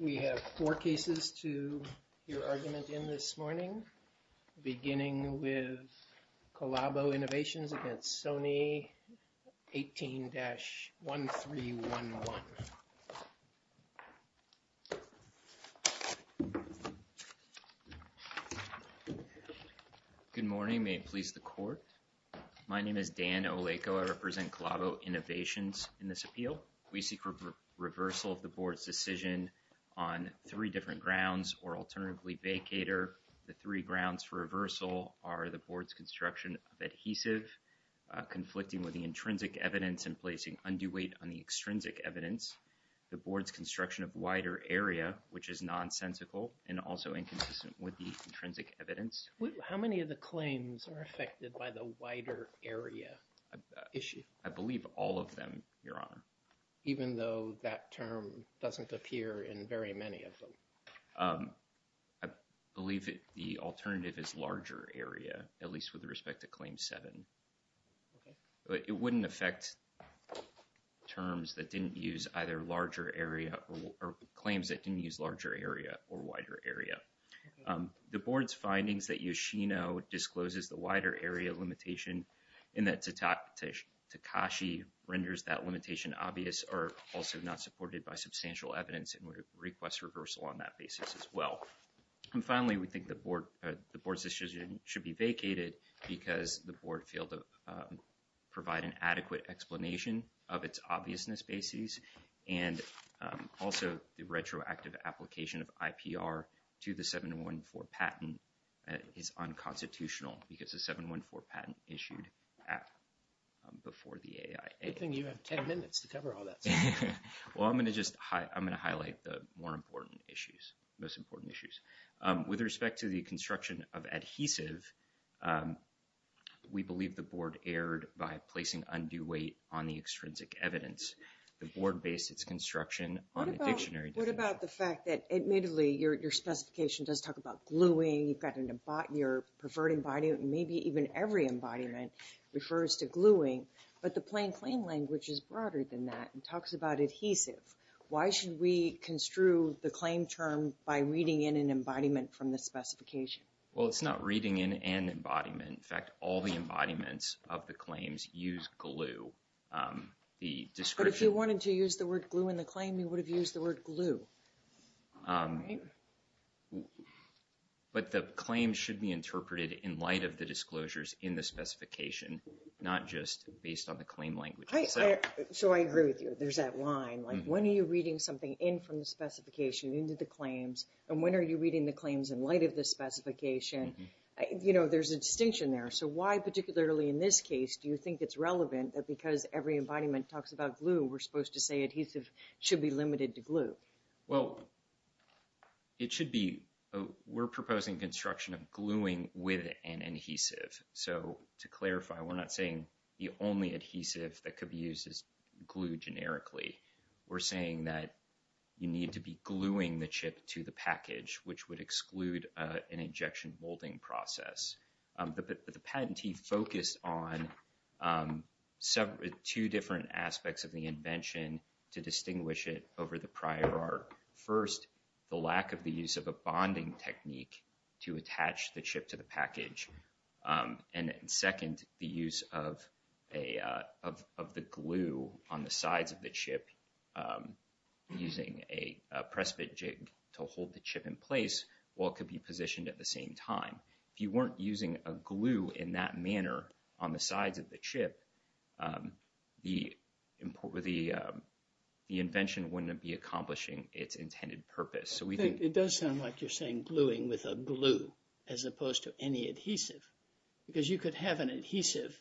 We have four cases to hear argument in this morning, beginning with Colabo Innovations against Sony 18-1311. Good morning. May it please the court. My name is Dan Oleko. I represent Colabo Innovations in this appeal. We seek reversal of the board's decision on three different grounds or alternatively vacater. The three grounds for reversal are the board's construction of adhesive, conflicting with the intrinsic evidence and placing undue weight on the extrinsic evidence, the board's construction of wider area, which is nonsensical and also inconsistent with the intrinsic evidence. How many of the claims are affected by the wider area issue? I believe all of them, Your Honor. Even though that term doesn't appear in very many of them? I believe the alternative is larger area, at least with respect to Claim 7. It wouldn't affect terms that didn't use either larger area or claims that didn't use larger area or wider area. The board's findings that Yoshino discloses the wider area limitation and that Takashi renders that limitation obvious are also not supported by substantial evidence and we request reversal on that basis as well. And finally, we think the board's decision should be vacated because the board failed to provide an adequate explanation of its obviousness basis and also the retroactive application of IPR to the 714 patent is unconstitutional because the 714 patent issued before the AIA. Good thing you have 10 minutes to cover all that stuff. Well, I'm going to just highlight the more important issues, most important issues. With respect to the construction of adhesive, we believe the board erred by placing undue weight on the extrinsic evidence. The board based its construction on the dictionary. What about the fact that admittedly your specification does talk about gluing, you've got your preferred embodiment and maybe even every embodiment refers to gluing, but the plain claim language is broader than that and talks about adhesive. Why should we construe the claim term by reading in an embodiment from the specification? Well, it's not reading in an embodiment, in fact, all the embodiments of the claims use glue. The description... But if you wanted to use the word glue in the claim, you would have used the word glue. But the claim should be interpreted in light of the disclosures in the specification, not just based on the claim language. So I agree with you. There's that line. Like when are you reading something in from the specification into the claims and when are you reading the claims in light of the specification? You know, there's a distinction there. So why, particularly in this case, do you think it's relevant that because every embodiment talks about glue, we're supposed to say adhesive should be limited to glue? Well, it should be... We're proposing construction of gluing with an adhesive. So to clarify, we're not saying the only adhesive that could be used is glue generically. We're saying that you need to be gluing the chip to the package, which would exclude an injection molding process. The patentee focused on two different aspects of the invention to distinguish it over the prior art. First, the lack of the use of a bonding technique to attach the chip to the package. And second, the use of the glue on the sides of the chip using a press fit jig to hold the chip in place while it could be positioned at the same time. If you weren't using a glue in that manner on the sides of the chip, the invention wouldn't be accomplishing its intended purpose. It does sound like you're saying gluing with a glue as opposed to any adhesive, because you could have an adhesive,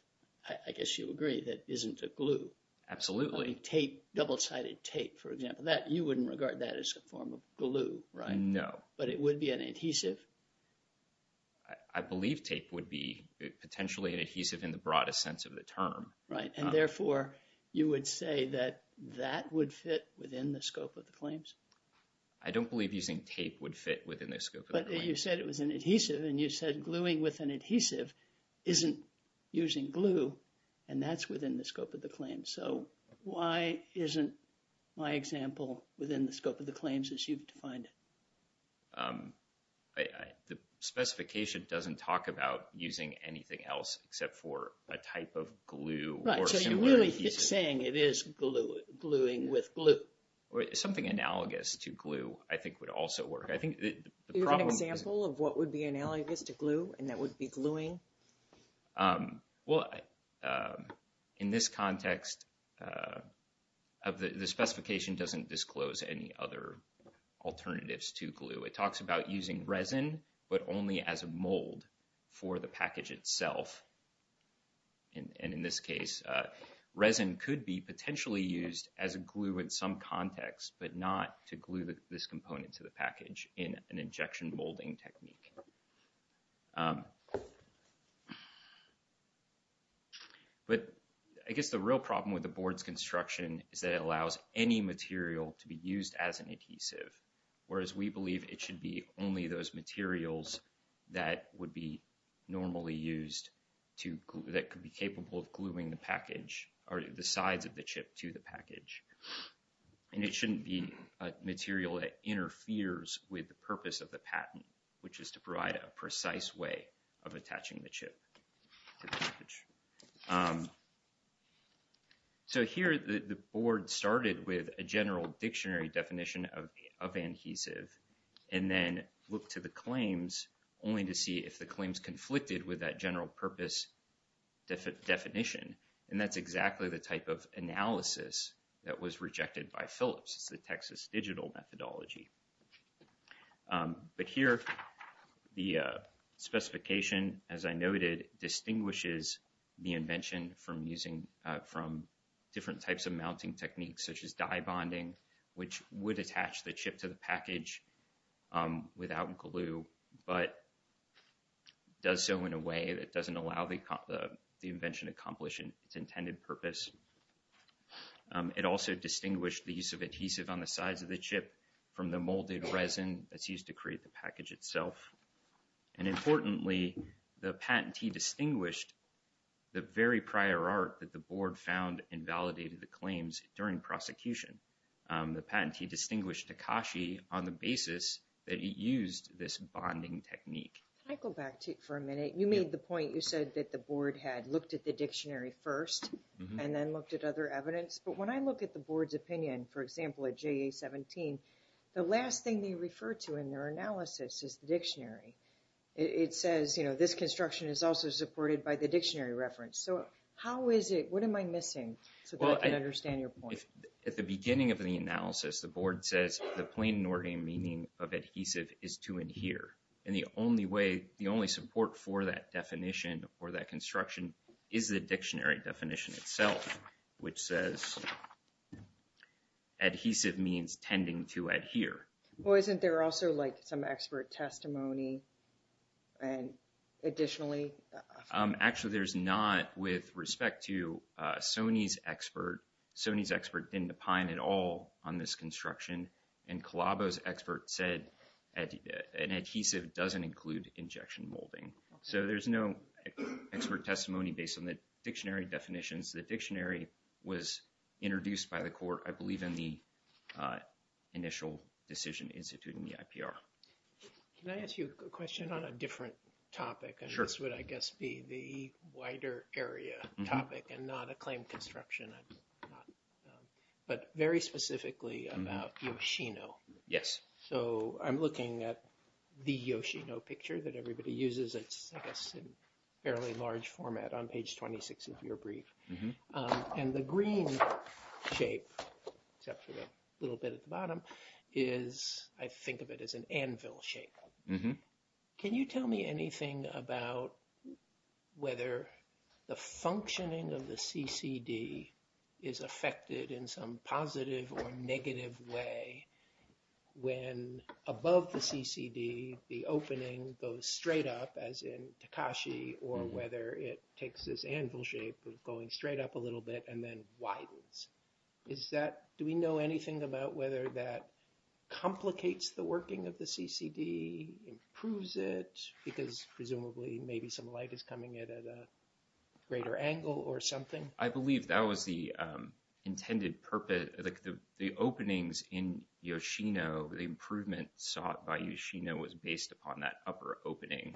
I guess you'll agree, that isn't a glue. Absolutely. Double-sided tape, for example. You wouldn't regard that as a form of glue, right? No. But it would be an adhesive? I believe tape would be potentially an adhesive in the broadest sense of the term. Right. And therefore, you would say that that would fit within the scope of the claims? I don't believe using tape would fit within the scope of the claims. But you said it was an adhesive, and you said gluing with an adhesive isn't using glue, and that's within the scope of the claim. So why isn't my example within the scope of the claims as you've defined it? The specification doesn't talk about using anything else except for a type of glue or similar adhesive. Right. So you're really saying it is gluing with glue? Something analogous to glue, I think, would also work. I think the problem... Do you have an example of what would be analogous to glue, and that would be gluing? In this context, the specification doesn't disclose any other alternatives to glue. It talks about using resin, but only as a mold for the package itself. And in this case, resin could be potentially used as a glue in some context, but not to glue this component to the package in an injection molding technique. But I guess the real problem with the board's construction is that it allows any material to be used as an adhesive, whereas we believe it should be only those materials that would be normally used that could be capable of gluing the package or the sides of the chip to the package. And it shouldn't be a material that interferes with the purpose of the patent, which is to provide a precise way of attaching the chip to the package. So here, the board started with a general dictionary definition of adhesive, and then looked to the claims only to see if the claims conflicted with that general purpose definition. And that's exactly the type of analysis that was rejected by Phillips, the Texas Digital Methodology. But here, the specification, as I noted, distinguishes the invention from different types of mounting techniques such as dye bonding, which would attach the chip to the package without glue, but does so in a way that doesn't allow the invention to accomplish its intended purpose. It also distinguished the use of adhesive on the sides of the chip from the molded resin that's used to create the package itself. And importantly, the patentee distinguished the very prior art that the board found and validated the claims during prosecution. The patentee distinguished Takashi on the basis that he used this bonding technique. Can I go back for a minute? You made the point, you said that the board had looked at the dictionary first, and then looked at other evidence. But when I look at the board's opinion, for example, at JA-17, the last thing they refer to in their analysis is the dictionary. It says, you know, this construction is also supported by the dictionary reference. So how is it, what am I missing so that I can understand your point? At the beginning of the analysis, the board says the plain Norgay meaning of adhesive is to adhere. And the only way, the only support for that definition or that construction is the dictionary definition itself, which says adhesive means tending to adhere. Well, isn't there also like some expert testimony and additionally? Actually, there's not with respect to Sony's expert. Sony's expert didn't opine at all on this construction. And Colabo's expert said an adhesive doesn't include injection molding. So there's no expert testimony based on the dictionary definitions. The dictionary was introduced by the court, I believe, in the initial decision instituted in the IPR. Can I ask you a question on a different topic? Sure. And this would, I guess, be the wider area topic and not a claim construction, but very specifically about Yoshino. Yes. So I'm looking at the Yoshino picture that everybody uses. It's, I guess, in fairly large format on page 26 of your brief. And the green shape, except for the little bit at the bottom, is, I think of it as an anvil shape. Can you tell me anything about whether the functioning of the CCD is affected in some positive or negative way when, above the CCD, the opening goes straight up, as in Takashi, or whether it takes this anvil shape of going straight up a little bit and then widens? Is that, do we know anything about whether that complicates the working of the CCD, improves it, because presumably maybe some light is coming in at a greater angle or something? I believe that was the intended purpose. The openings in Yoshino, the improvement sought by Yoshino was based upon that upper opening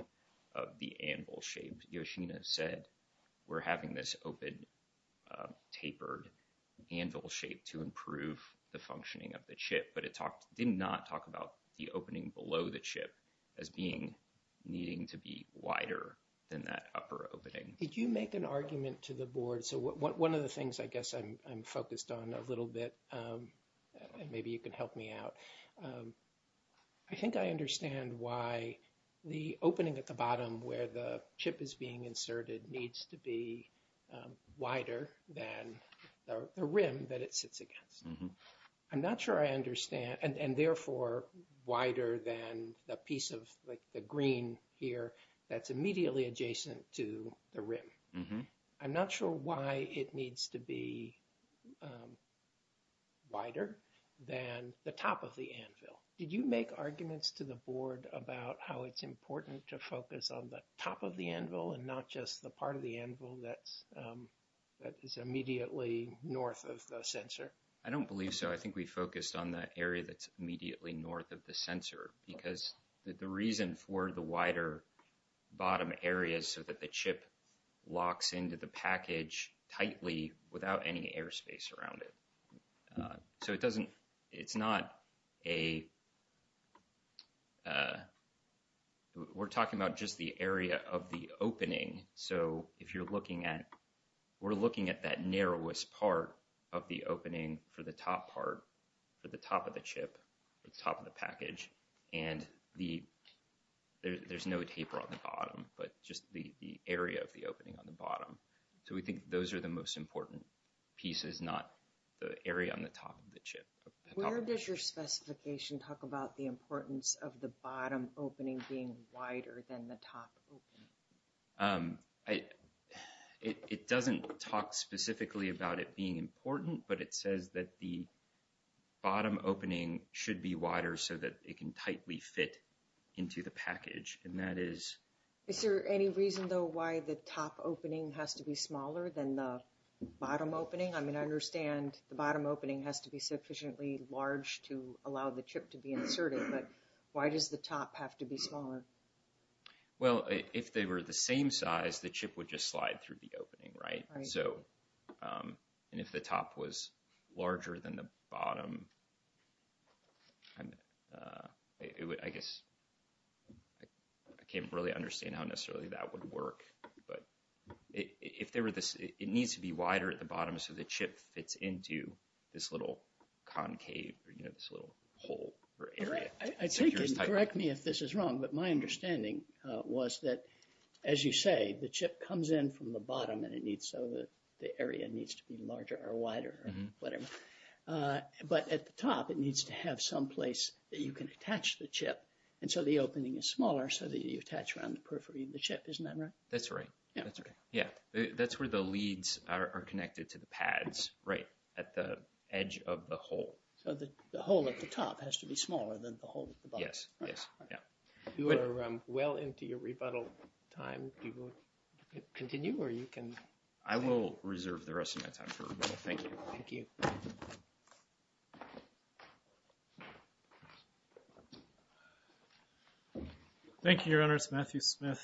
of the anvil shape. And Yoshino said, we're having this open, tapered anvil shape to improve the functioning of the chip. But it did not talk about the opening below the chip as needing to be wider than that upper opening. Did you make an argument to the board? So one of the things I guess I'm focused on a little bit, and maybe you can help me out, is I think I understand why the opening at the bottom where the chip is being inserted needs to be wider than the rim that it sits against. I'm not sure I understand, and therefore wider than the piece of the green here that's immediately adjacent to the rim. I'm not sure why it needs to be wider than the top of the anvil. Did you make arguments to the board about how it's important to focus on the top of the anvil and not just the part of the anvil that is immediately north of the sensor? I don't believe so. I think we focused on the area that's immediately north of the sensor, because the reason for the wider bottom area is so that the chip locks into the package tightly without any airspace around it. So it doesn't, it's not a, we're talking about just the area of the opening. So if you're looking at, we're looking at that narrowest part of the opening for the top part, for the top of the chip, the top of the package. And the, there's no taper on the bottom, but just the area of the opening on the bottom. So we think those are the most important pieces, not the area on the top of the chip. Where does your specification talk about the importance of the bottom opening being wider than the top opening? It doesn't talk specifically about it being important, but it says that the bottom opening should be wider so that it can tightly fit into the package. And that is... Is there any reason though why the top opening has to be smaller than the bottom opening? I mean, I understand the bottom opening has to be sufficiently large to allow the chip to be inserted, but why does the top have to be smaller? Well, if they were the same size, the chip would just slide through the opening, right? So, and if the top was larger than the bottom, I guess, I can't really understand how necessarily that would work, but if there were this, it needs to be wider at the bottom so the chip fits into this little concave or, you know, this little hole or area. Correct me if this is wrong, but my understanding was that, as you say, the chip comes in from the bottom and it needs so that the area needs to be larger or wider or whatever. But at the top, it needs to have some place that you can attach the chip. And so the opening is smaller so that you attach around the periphery of the chip. Isn't that right? That's right. That's right. Yeah. That's where the leads are connected to the pads, right at the edge of the hole. So the hole at the top has to be smaller than the hole at the bottom. Yes. Yes. Yeah. You are well into your rebuttal time. And do you want to continue or you can... I will reserve the rest of my time for rebuttal. Thank you. Thank you. Thank you, Your Honor. It's Matthew Smith.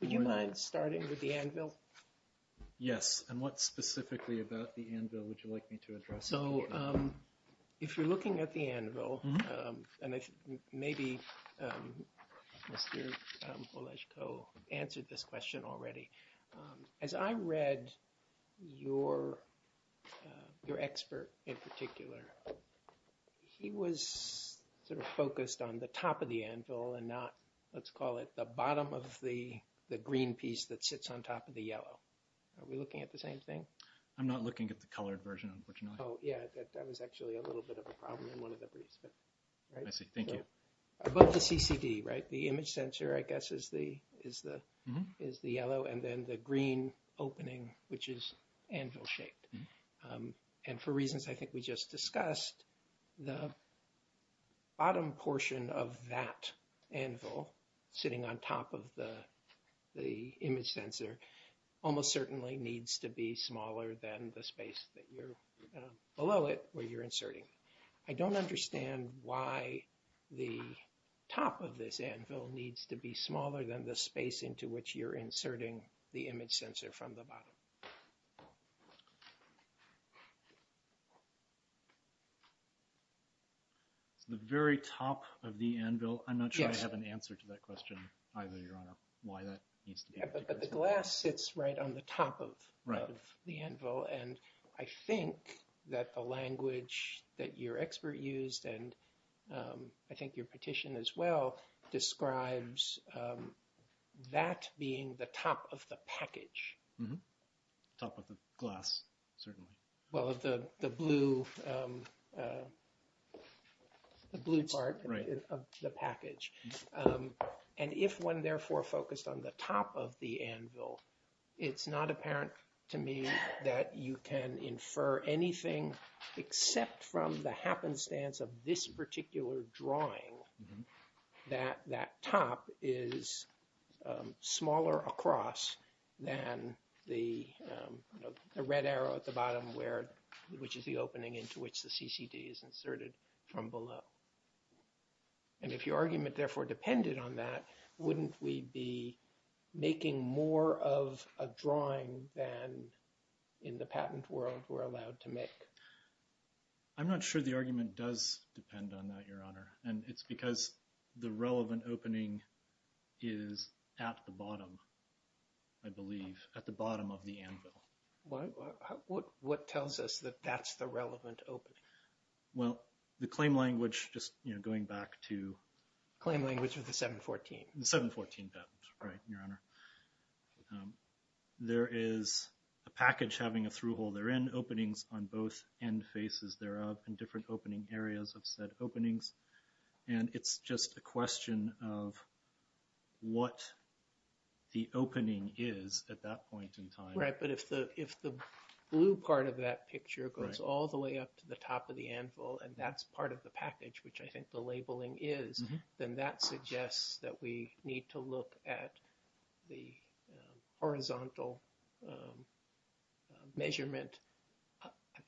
Would you mind starting with the anvil? Yes. And what specifically about the anvil would you like me to address? So, if you're looking at the anvil, and maybe Mr. Boleszko answered this question already. As I read your expert in particular, he was sort of focused on the top of the anvil and not, let's call it, the bottom of the green piece that sits on top of the yellow. Are we looking at the same thing? I'm not looking at the colored version, unfortunately. Oh, yeah. That was actually a little bit of a problem in one of the briefs, but... I see. Thank you. Above the CCD, right? The image sensor, I guess, is the yellow and then the green opening, which is anvil-shaped. And for reasons I think we just discussed, the bottom portion of that anvil sitting on the top of the image sensor almost certainly needs to be smaller than the space that you're below it where you're inserting. I don't understand why the top of this anvil needs to be smaller than the space into which you're inserting the image sensor from the bottom. The very top of the anvil? Yes. I'm not sure I have an answer to that question either, Your Honor, why that needs to be... Yeah, but the glass sits right on the top of the anvil, and I think that the language that your expert used, and I think your petition as well, describes that being the top of the package. Mm-hmm. Top of the glass, certainly. Well, the blue part of the package. And if one therefore focused on the top of the anvil, it's not apparent to me that you can infer anything except from the happenstance of this particular drawing that that top is somewhere, which is the opening into which the CCD is inserted from below. And if your argument therefore depended on that, wouldn't we be making more of a drawing than in the patent world we're allowed to make? I'm not sure the argument does depend on that, Your Honor, and it's because the relevant opening is at the bottom, I believe, at the bottom of the anvil. What tells us that that's the relevant opening? Well, the claim language, just going back to... Claim language of the 714. The 714 patent, right, Your Honor. There is a package having a through-hole therein, openings on both end faces thereof, and different opening areas of said openings. And it's just a question of what the opening is at that point in time. Right, but if the blue part of that picture goes all the way up to the top of the anvil, and that's part of the package, which I think the labeling is, then that suggests that we need to look at the horizontal measurement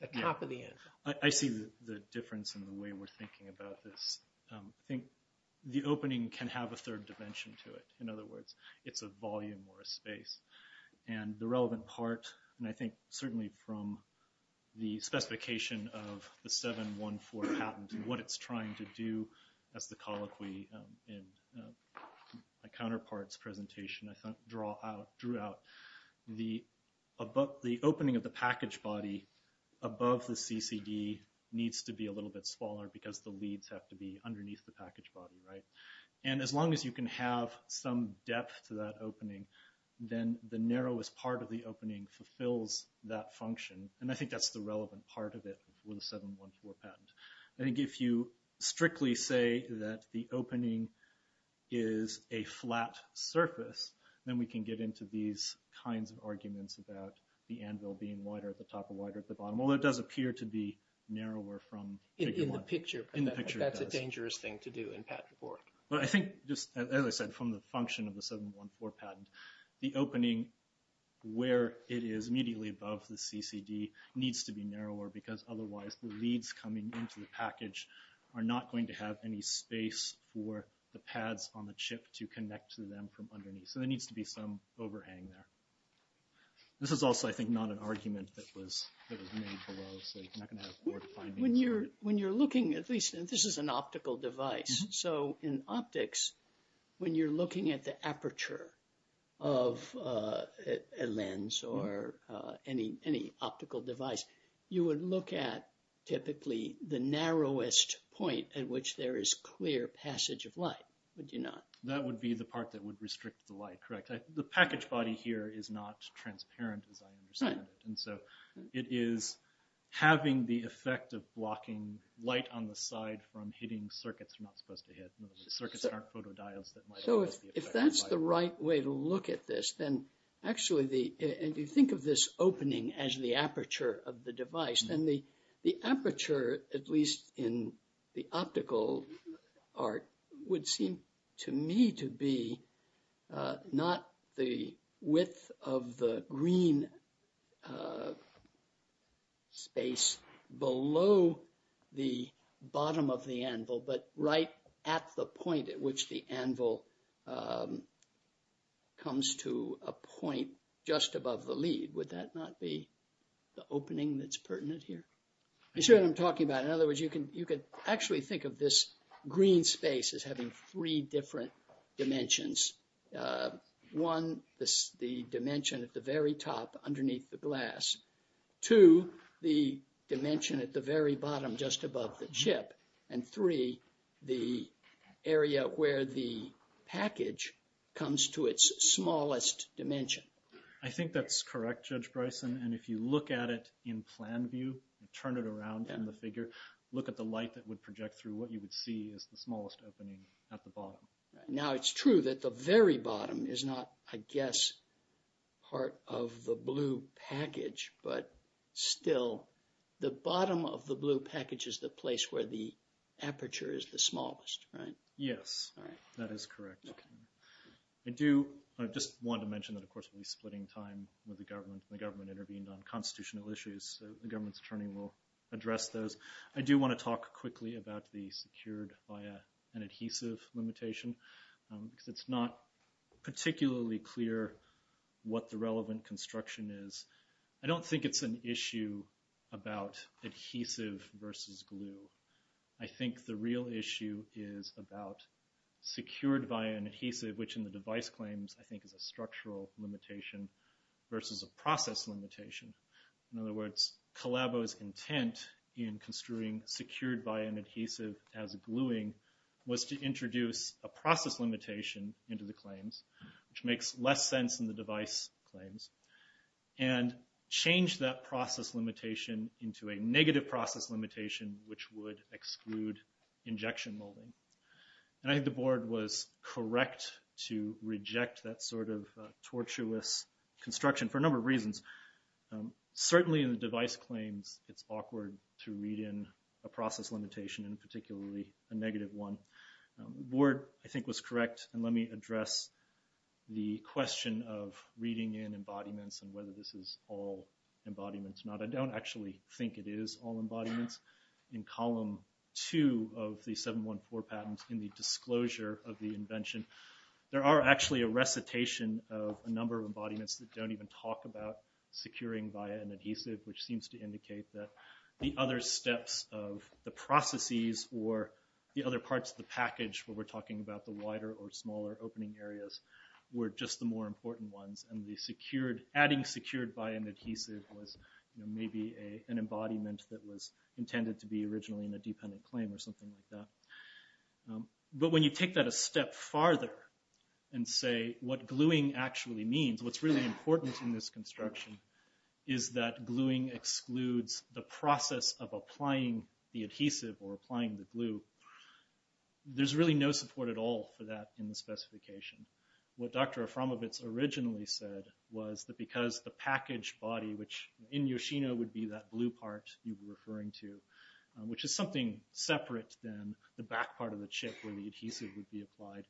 at the top of the anvil. I see the difference in the way we're thinking about this. I think the opening can have a third dimension to it. And the relevant part, and I think certainly from the specification of the 714 patent and what it's trying to do, as the colloquy in my counterpart's presentation drew out, the opening of the package body above the CCD needs to be a little bit smaller because the leads have to be underneath the package body, right? And as long as you can have some depth to that opening, then the narrowest part of the opening fulfills that function. And I think that's the relevant part of it for the 714 patent. I think if you strictly say that the opening is a flat surface, then we can get into these kinds of arguments about the anvil being wider at the top or wider at the bottom, although it does appear to be narrower from figure one. In the picture. In the picture, it does. But I think that's a dangerous thing to do in patent report. But I think, as I said, from the function of the 714 patent, the opening where it is immediately above the CCD needs to be narrower because otherwise the leads coming into the package are not going to have any space for the pads on the chip to connect to them from underneath. So there needs to be some overhang there. This is also, I think, not an argument that was made below, so you're not going to have board findings. When you're looking, at least, and this is an optical device, so in optics, when you're looking at the aperture of a lens or any optical device, you would look at typically the narrowest point at which there is clear passage of light, would you not? That would be the part that would restrict the light, correct? The package body here is not transparent, as I understand it, and so it is having the effect of blocking light on the side from hitting circuits you're not supposed to hit. Circuits aren't photo dials that might cause the effect of light. So if that's the right way to look at this, then actually, if you think of this opening as the aperture of the device, then the aperture, at least in the optical art, would seem to me to be not the width of the green space below the bottom of the anvil, but right at the point at which the anvil comes to a point just above the lead. Would that not be the opening that's pertinent here? You see what I'm talking about? In other words, you could actually think of this green space as having three different dimensions. One, the dimension at the very top underneath the glass. Two, the dimension at the very bottom just above the chip. And three, the area where the package comes to its smallest dimension. I think that's correct, Judge Bryson, and if you look at it in plan view, turn it around from the figure, look at the light that would project through, what you would see is the smallest opening at the bottom. Now it's true that the very bottom is not, I guess, part of the blue package, but still, the bottom of the blue package is the place where the aperture is the smallest, right? Yes, that is correct. I do just want to mention that, of course, we'll be splitting time with the government. The government intervened on constitutional issues, so the government's attorney will address those. I do want to talk quickly about the secured via an adhesive limitation, because it's not particularly clear what the relevant construction is. I don't think it's an issue about adhesive versus glue. I think the real issue is about secured via an adhesive, which in the device claims, I think is a structural limitation versus a process limitation. In other words, Colabo's intent in construing secured via an adhesive as gluing was to introduce a process limitation into the claims, which makes less sense in the device claims, and change that process limitation into a negative process limitation, which would exclude injection molding. I think the board was correct to reject that sort of tortuous construction for a number of reasons. Certainly, in the device claims, it's awkward to read in a process limitation, and particularly a negative one. The board, I think, was correct, and let me address the question of reading in embodiments and whether this is all embodiments or not. I don't actually think it is all embodiments. In column two of the 714 patent, in the disclosure of the invention, there are actually a recitation of a number of embodiments that don't even talk about securing via an adhesive, which seems to indicate that the other steps of the processes or the other parts of the package where we're talking about the wider or smaller opening areas were just the more important ones, and adding secured via an adhesive was maybe an embodiment that was intended to be originally in a dependent claim or something like that. But when you take that a step farther and say what gluing actually means, what's really important in this construction is that gluing excludes the process of applying the adhesive or applying the glue, there's really no support at all for that in the specification. What Dr. Aframovitz originally said was that because the package body, which in Yoshino would be that blue part you were referring to, which is something separate than the back part of the chip where the adhesive would be applied,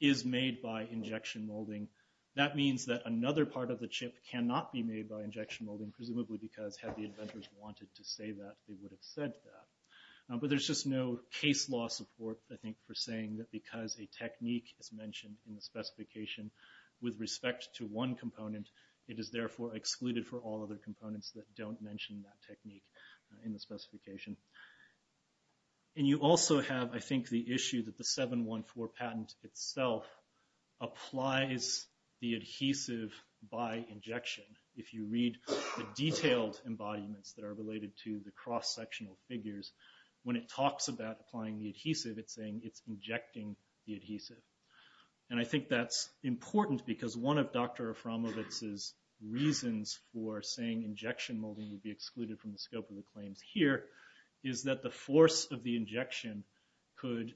is made by injection molding, that means that another part of the chip cannot be made by injection molding, presumably because had the inventors wanted to say that, they would have said that. But there's just no case law support, I think, for saying that because a technique is mentioned in the specification with respect to one component, it is therefore excluded for all other components that don't mention that technique in the specification. And you also have, I think, the issue that the 714 patent itself applies the adhesive by injection. If you read the detailed embodiments that are related to the cross-sectional figures, when it talks about applying the adhesive, it's saying it's injecting the adhesive. And I think that's important because one of Dr. Aframovitz's reasons for saying injection molding would be excluded from the scope of the claims here is that the force of the injection could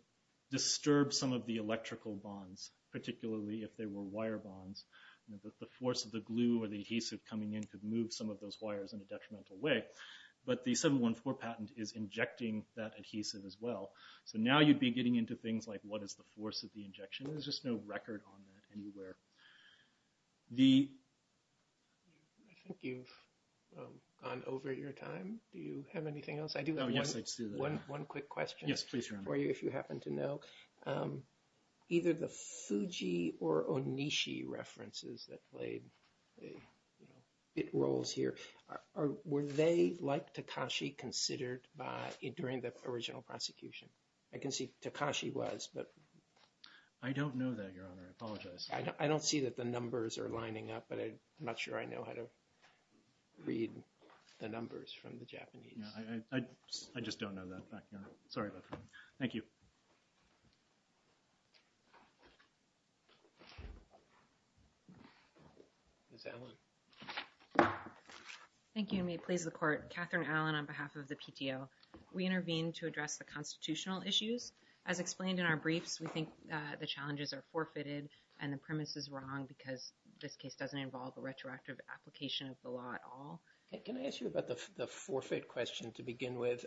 disturb some of the electrical bonds, particularly if they were wire bonds, that the force of the glue or the adhesive coming in could move some of those wires in a detrimental way. But the 714 patent is injecting that adhesive as well. So now you'd be getting into things like, what is the force of the injection? There's just no record on that anywhere. The... I think you've gone over your time. Do you have anything else? I do have one quick question for you, if you happen to know. Either the Fuji or Onishi references that played bit roles here, were they, like Takashi, considered during the original prosecution? I can see Takashi was, but... I don't know that, Your Honor. I apologize. I don't see that the numbers are lining up, but I'm not sure I know how to read the numbers from the Japanese. Yeah, I just don't know that back then. Sorry about that. Thank you. Ms. Allen. Thank you, and may it please the Court. I'm Catherine Allen on behalf of the PTO. We intervened to address the constitutional issues. As explained in our briefs, we think the challenges are forfeited and the premise is wrong because this case doesn't involve a retroactive application of the law at all. Can I ask you about the forfeit question to begin with?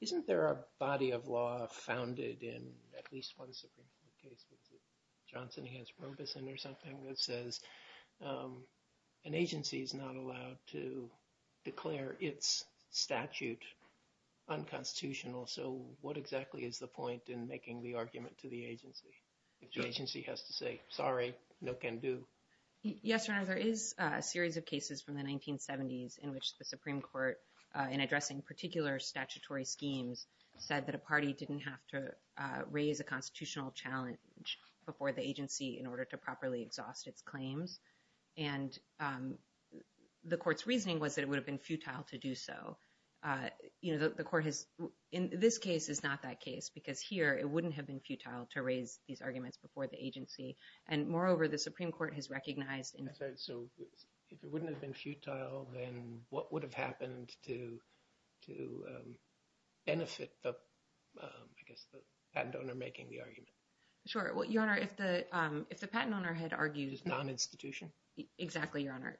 Isn't there a body of law founded in at least one Supreme Court case, was it Johnson v. Robeson or something, that says an agency is not allowed to declare its statute unconstitutional, so what exactly is the point in making the argument to the agency if the agency has to say, sorry, no can do? Yes, Your Honor. There is a series of cases from the 1970s in which the Supreme Court, in addressing particular statutory schemes, said that a party didn't have to raise a constitutional challenge before the agency in order to properly exhaust its claims, and the Court's reasoning was that it would have been futile to do so. In this case, it's not that case, because here, it wouldn't have been futile to raise these arguments before the agency, and moreover, the Supreme Court has recognized in- I'm sorry, so if it wouldn't have been futile, then what would have happened to benefit the patent owner making the argument? Sure, well, Your Honor, if the patent owner had argued- Non-institution? Exactly, Your Honor.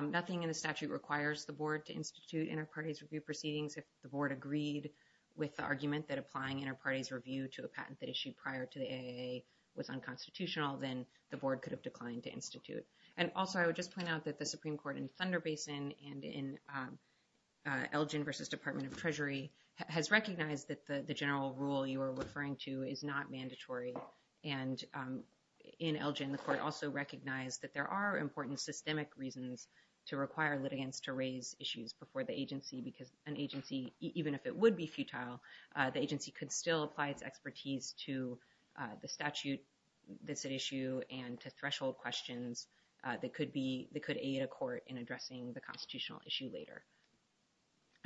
Nothing in the statute requires the Board to institute inter-parties review proceedings. If the Board agreed with the argument that applying inter-parties review to a patent that issued prior to the AAA was unconstitutional, then the Board could have declined to institute. And also, I would just point out that the Supreme Court in Thunder Basin and in Elgin versus Department of Treasury has recognized that the general rule you are referring to is not mandatory. And in Elgin, the Court also recognized that there are important systemic reasons to require litigants to raise issues before the agency, because an agency, even if it would be futile, the agency could still apply its expertise to the statute that's at issue and to threshold questions that could aid a court in addressing the constitutional issue later.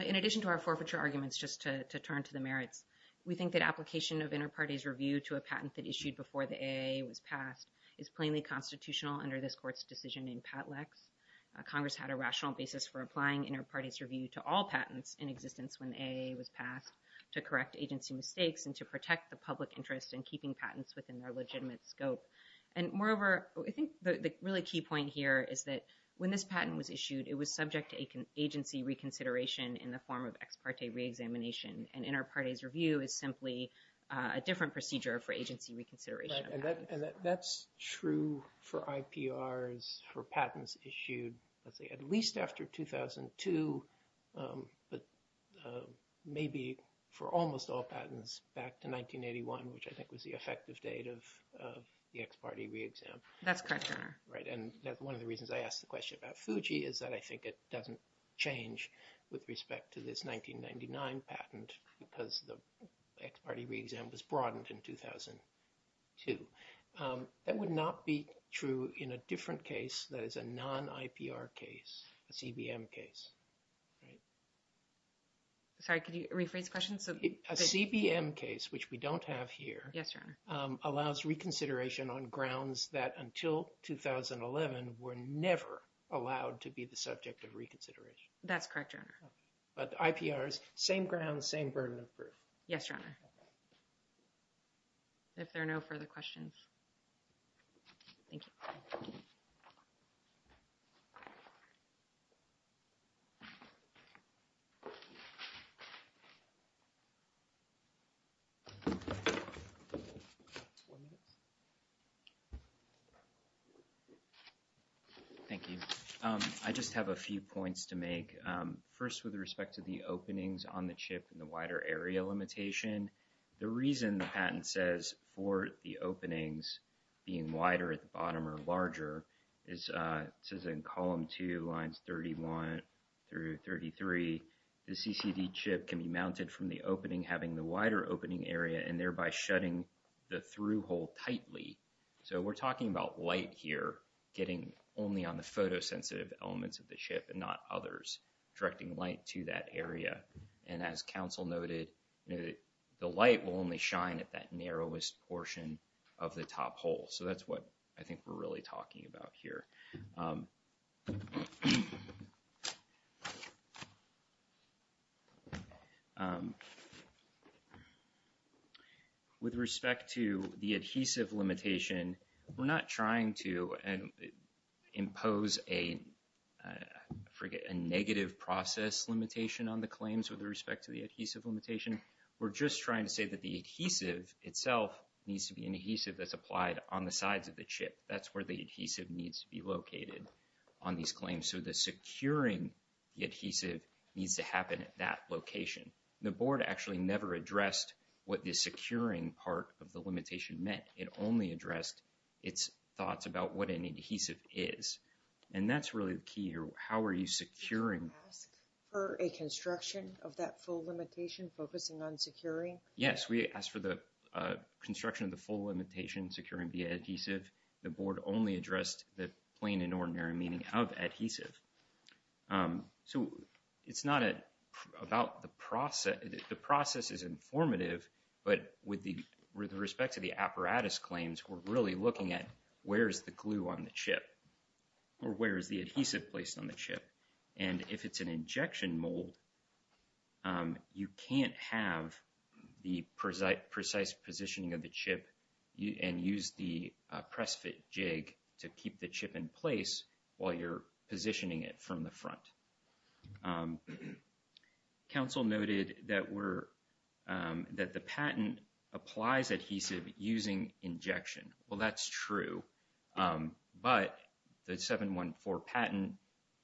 In addition to our forfeiture arguments, just to turn to the merits, we think that application of inter-parties review to a patent that issued before the AAA was passed is plainly constitutional under this Court's decision in Patlex. Congress had a rational basis for applying inter-parties review to all patents in existence when the AAA was passed to correct agency mistakes and to protect the public interest in keeping patents within their legitimate scope. And moreover, I think the really key point here is that when this patent was issued, it was subject to agency reconsideration in the form of ex parte re-examination. An inter-parties review is simply a different procedure for agency reconsideration. Right, and that's true for IPRs, for patents issued, let's say, at least after 2002, but maybe for almost all patents back to 1981, which I think was the effective date of the ex parte re-exam. That's correct, Your Honor. Right, and one of the reasons I asked the question about Fuji is that I think it doesn't change with respect to this 1999 patent because the ex parte re-exam was broadened in 2002. That would not be true in a different case that is a non-IPR case, a CBM case, right? Sorry, could you rephrase the question? A CBM case, which we don't have here. Yes, Your Honor. Allows reconsideration on grounds that until 2011 were never allowed to be the subject of reconsideration. That's correct, Your Honor. But IPRs, same grounds, same burden of proof. Yes, Your Honor. If there are no further questions. Thank you. One minute. Thank you. I just have a few points to make. First, with respect to the openings on the chip and the wider area limitation, the reason the patent says for the openings being wider at the bottom or larger is it says in column two, lines 31 through 33, the CCD chip can be mounted from the opening having the wider opening area and thereby shutting the through hole tightly. So we're talking about light here getting only on the photosensitive elements of the chip and not others directing light to that area. And as counsel noted, the light will only shine at that narrowest portion of the top hole. So that's what I think we're really talking about here. With respect to the adhesive limitation, we're not trying to impose a negative process limitation on the claims with respect to the adhesive limitation. We're just trying to say that the adhesive itself needs to be an adhesive that's applied on the sides of the chip. That's where the adhesive needs to be located on these claims. So the securing the adhesive needs to happen at that location. The board actually never addressed what the securing part of the limitation meant. It only addressed its thoughts about what an adhesive is. And that's really the key here. How are you securing? Did you ask for a construction of that full limitation focusing on securing? Yes, we asked for the construction of the full limitation securing via adhesive. The board only addressed the plain and ordinary meaning of adhesive. So it's not about the process. The process is informative. But with respect to the apparatus claims, we're really looking at where's the glue on the chip or where is the adhesive placed on the chip. And if it's an injection mold, you can't have the precise positioning of the chip and use the press fit jig to keep the chip in place while you're positioning it from the front. Council noted that the patent applies adhesive using injection. Well, that's true. But the 714 patent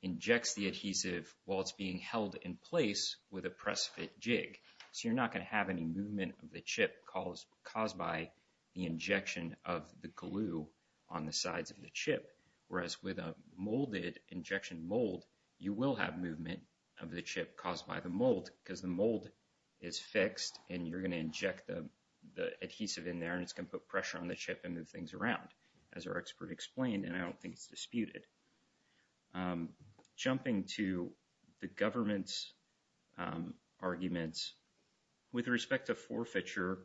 injects the adhesive while it's being held in place with a press fit jig. So you're not going to have any movement of the chip caused by the injection of the glue on the sides of the chip. Whereas with a molded injection mold, you will have movement of the chip caused by the mold because the mold is fixed and you're going to inject the adhesive in there and it's going to put pressure on the chip and move things around, as our expert explained. And I don't think it's disputed. I'm jumping to the government's arguments. With respect to forfeiture,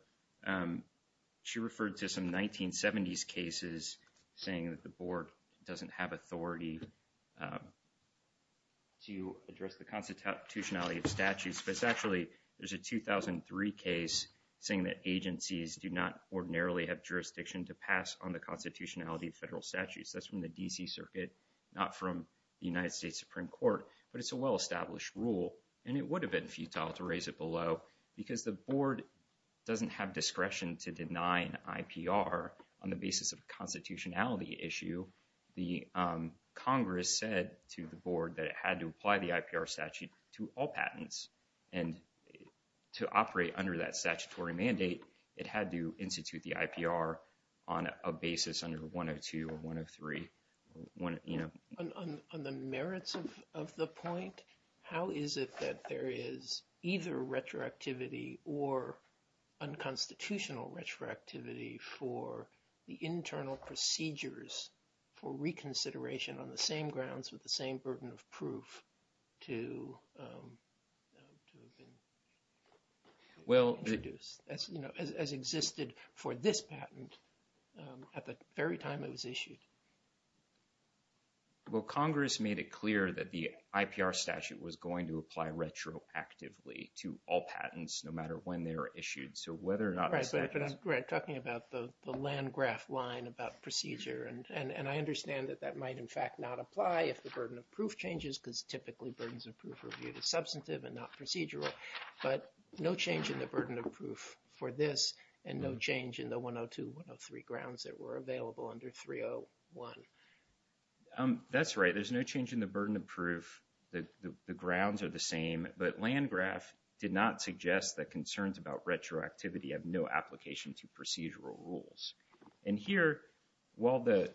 she referred to some 1970s cases saying that the board doesn't have authority to address the constitutionality of statutes. But it's actually, there's a 2003 case saying that agencies do not ordinarily have jurisdiction to pass on the constitutionality of federal statutes. That's from the DC circuit, not from the United States Supreme Court, but it's a well established rule. And it would have been futile to raise it below because the board doesn't have discretion to deny an IPR on the basis of a constitutionality issue. The Congress said to the board that it had to apply the IPR statute to all patents. And to operate under that statutory mandate, it had to institute the IPR on a basis under 102 or 103. On the merits of the point, how is it that there is either retroactivity or unconstitutional retroactivity for the internal procedures for reconsideration on the same grounds with the same burden of proof to have been introduced as existed for this patent at the very time it was issued? Well, Congress made it clear that the IPR statute was going to apply retroactively to all patents, no matter when they were issued. So whether or not... Right, but I'm talking about the land graph line about procedure. And I understand that that might in fact not apply if the burden of proof changes because typically burdens of proof are viewed as substantive and not procedural. But no change in the burden of proof for this and no change in the 102, 103 grounds that were available under 301. That's right. There's no change in the burden of proof. The grounds are the same. But land graph did not suggest that concerns about retroactivity have no application to procedural rules. And here, while the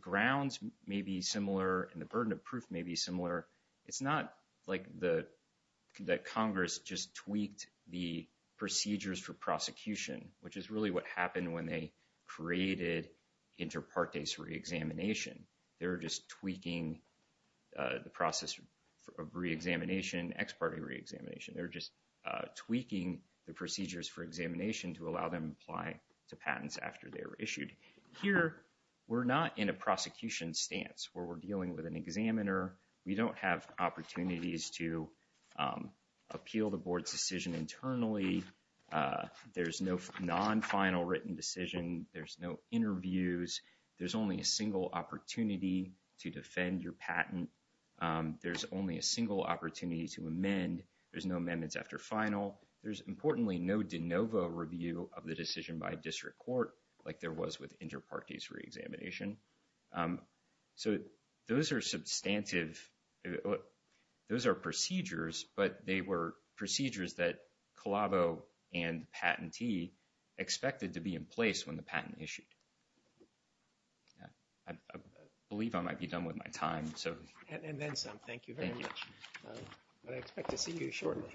grounds may be similar and the burden of proof may be similar, it's not like that Congress just tweaked the procedures for prosecution, which is really what happened when they created inter partes reexamination. They were just tweaking the process of reexamination, ex parte reexamination. They were just tweaking the procedures for examination to allow them to apply to patents after they were issued. Here, we're not in a prosecution stance where we're dealing with an examiner. We don't have opportunities to appeal the board's decision internally. There's no non-final written decision. There's no interviews. There's only a single opportunity to defend your patent. There's only a single opportunity to amend. There's no amendments after final. There's, importantly, no de novo review of the decision by district court like there was with inter partes reexamination. So those are substantive. If those are procedures, but they were procedures that Colavo and the patentee expected to be in place when the patent issued. I believe I might be done with my time. So and then some. Thank you very much. But I expect to see you shortly.